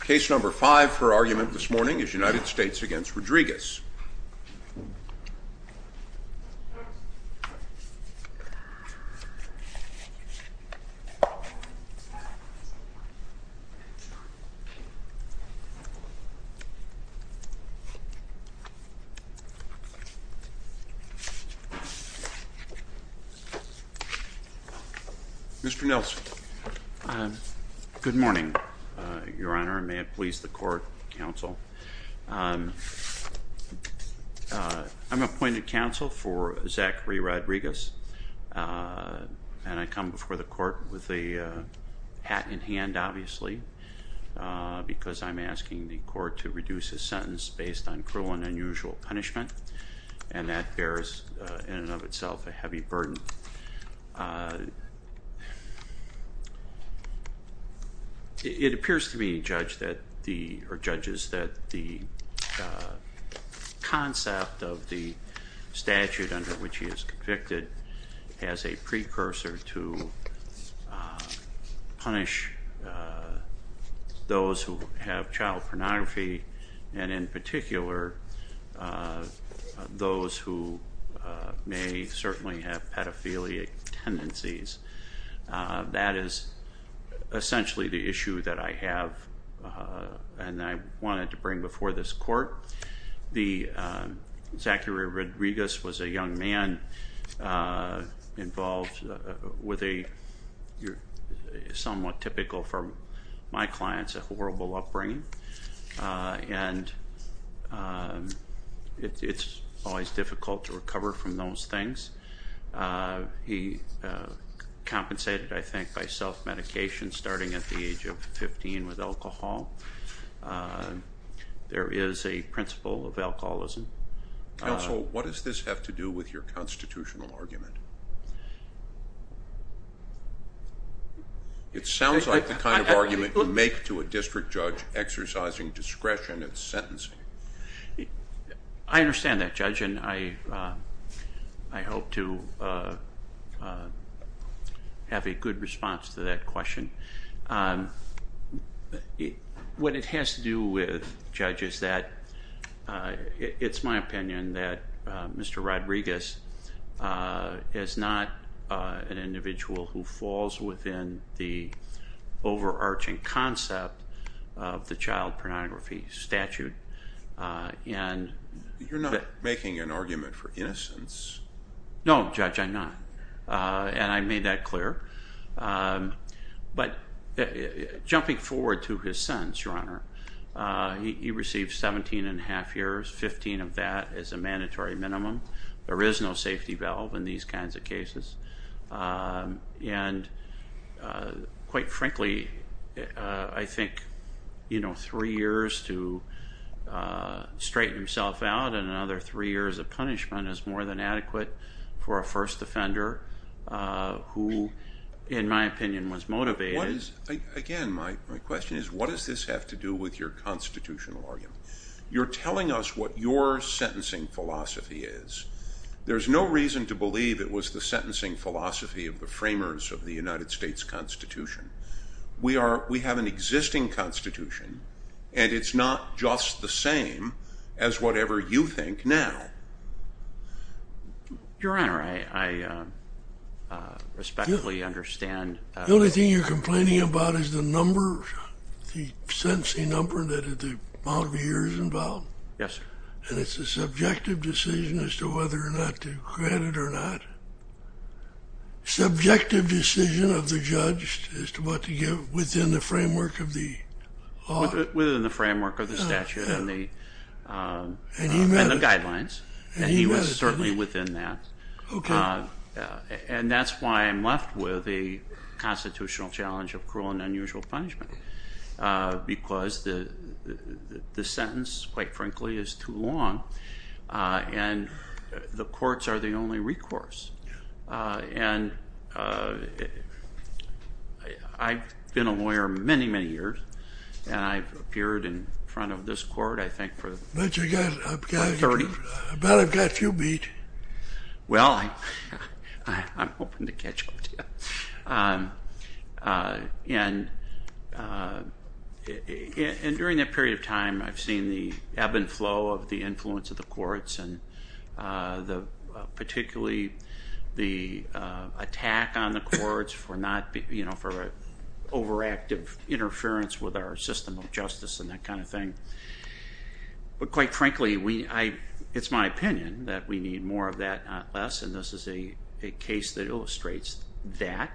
Case No. 5 for argument this morning is United States v. Rodriguez. Mr. Nelson, good morning, your honor, and may it please the court, counsel. I'm appointed counsel for Zachary Rodriguez, and I come before the court with a hat in hand, obviously, because I'm asking the court to reduce his sentence based on cruel and unusual punishment, and that bears in and of itself a heavy burden. It appears to me, judges, that the concept of the statute under which he is convicted has a precursor to punish those who have child pornography, and in particular those who may certainly have pedophilia tendencies. That is essentially the issue that I have and I wanted to bring before this court. The Zachary Rodriguez was a young man involved with a somewhat typical for my clients a horrible upbringing, and it's always difficult to recover from those things. He compensated, I think, by self-medication starting at the age of 15 with alcohol. There is a principle of alcoholism. Counsel, what does this have to do with your constitutional argument? It sounds like the kind of argument you make to a district judge exercising discretion in sentencing. I understand that, Judge, and I hope to have a good response to that question. What it has to do with, Judge, is that it's my opinion that Mr. Rodriguez is not an individual who falls within the overarching concept of the child pornography statute. You're not making an argument for innocence. No, Judge, I'm not. I made that clear. Jumping forward to his sentence, Your Honor, he received 17 and a half years, 15 of that is a mandatory minimum. There is no safety valve in these kinds of cases. Quite frankly, I think three years to straighten himself out and another three years of punishment is more than adequate for a first offender who, in my opinion, was motivated. Again, my question is, what does this have to do with your constitutional argument? You're telling us what your sentencing philosophy is. There's no reason to believe it was the sentencing philosophy of the framers of the United States Constitution. We have an existing constitution, and it's not just the same as whatever you think now. Your Honor, I respectfully understand. The only thing you're complaining about is the number, the sentencing number, that the amount of years involved. Yes, sir. And it's a subjective decision as to whether or not to grant it or not. Subjective decision of the judge as to what to give within the framework of the law. Within the framework of the statute and the guidelines, and he was certainly within that. And that's why I'm left with a constitutional challenge of cruel and unusual punishment because the sentence, quite frankly, is too long. And the courts are the only recourse. And I've been a lawyer many, many years, and I've appeared in front of this court, I think, for 30. But I've got a few beat. Well, I'm hoping to catch up to you. And during that period of time, I've seen the ebb and flow of the influence of the courts, and particularly the attack on the courts for overactive interference with our system of justice and that kind of thing. But quite frankly, it's my opinion that we need more of that, not less. And this is a case that illustrates that.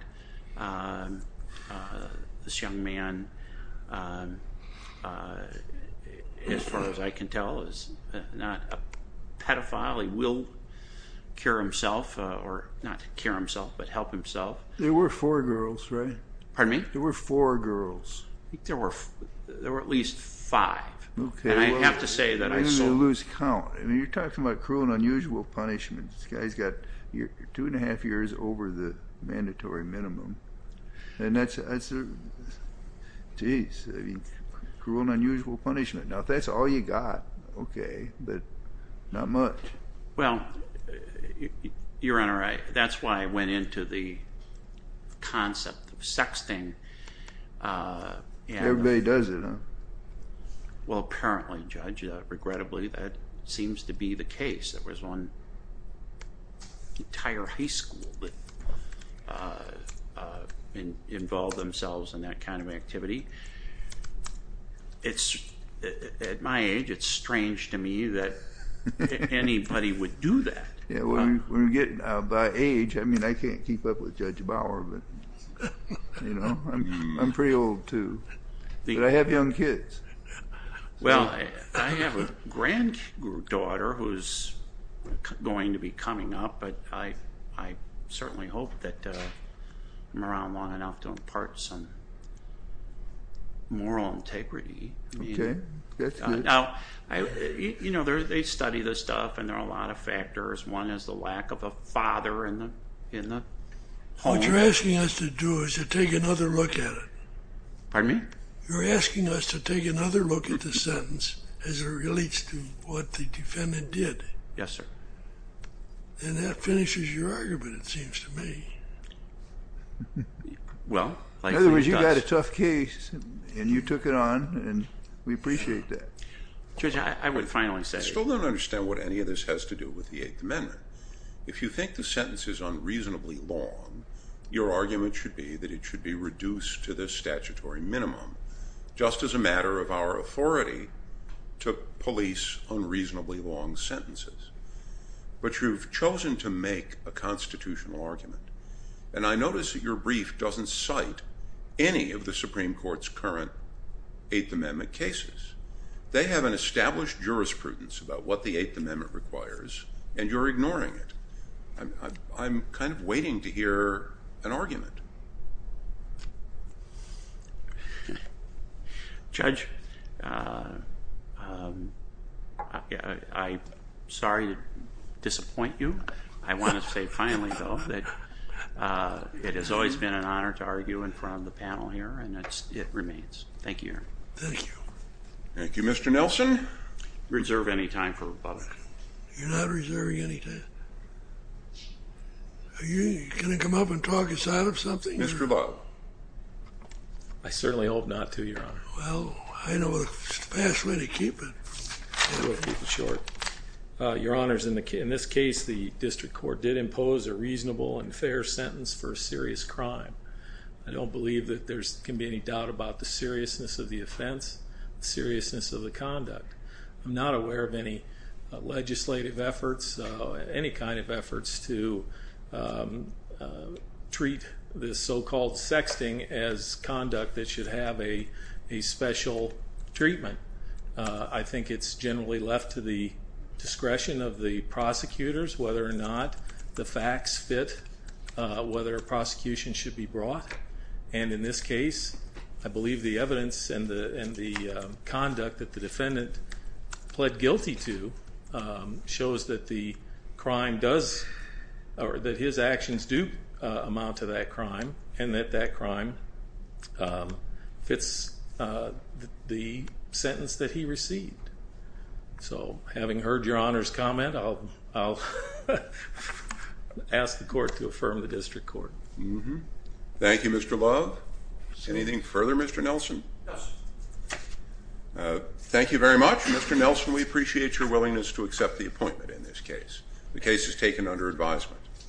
This young man, as far as I can tell, is not a pedophile. He will cure himself, or not cure himself, but help himself. There were four girls, right? Pardon me? There were four girls. There were at least five. And I have to say that I saw... You're going to lose count. I mean, you're talking about cruel and unusual punishment. This guy's got two and a half years over the mandatory minimum. And that's... Jeez, cruel and unusual punishment. Now, if that's all you got, okay, but not much. Well, Your Honor, that's why I went into the concept of sexting. Everybody does it, huh? Well, apparently, Judge. Regrettably, that seems to be the case. There was one entire high school that involved themselves in that kind of activity. At my age, it's strange to me that anybody would do that. Yeah, by age, I mean, I can't keep up with Judge Bauer. I'm pretty old, too. But I have young kids. Well, I have a granddaughter who's going to be coming up, but I certainly hope that I'm around long enough to impart some moral integrity. Okay. Now, you know, they study this stuff, and there are a lot of factors. One is the lack of a father in the home. What you're asking us to do is to take another look at it. Pardon me? You're asking us to take another look at the sentence as it relates to what the defendant did. Yes, sir. And that finishes your argument, it seems to me. In other words, you got a tough case, and you took it on, and we appreciate that. Judge, I would finally say. I still don't understand what any of this has to do with the Eighth Amendment. If you think the sentence is unreasonably long, your argument should be that it should be reduced to the statutory minimum just as a matter of our authority to police unreasonably long sentences. But you've chosen to make a constitutional argument, and I notice that your brief doesn't cite any of the Supreme Court's current Eighth Amendment cases. They have an established jurisprudence about what the Eighth Amendment requires, and you're ignoring it. I'm kind of waiting to hear an argument. Judge, I'm sorry to disappoint you. I want to say finally, though, that it has always been an honor to argue in front of the panel here, and it remains. Thank you, Your Honor. Thank you. Thank you. Mr. Nelson? Reserve any time for rebuttal. You're not reserving any time. Are you going to come up and talk inside of something? Mr. Bob? I certainly hope not to, Your Honor. Well, I know the best way to keep it. I'll go a little bit short. Your Honors, in this case, the district court did impose a reasonable and fair sentence for a serious crime. I don't believe that there can be any doubt about the seriousness of the offense, the seriousness of the conduct. I'm not aware of any legislative efforts, any kind of efforts, to treat this so-called sexting as conduct that should have a special treatment. I think it's generally left to the discretion of the prosecutors, whether or not the facts fit, whether a prosecution should be brought. And in this case, I believe the evidence and the conduct that the defendant pled guilty to shows that the crime does, or that his actions do amount to that crime, and that that crime fits the sentence that he received. So having heard Your Honor's comment, I'll ask the court to affirm the district court. Thank you, Mr. Love. Anything further, Mr. Nelson? Thank you very much. Mr. Nelson, we appreciate your willingness to accept the appointment in this case. The case is taken under advisement.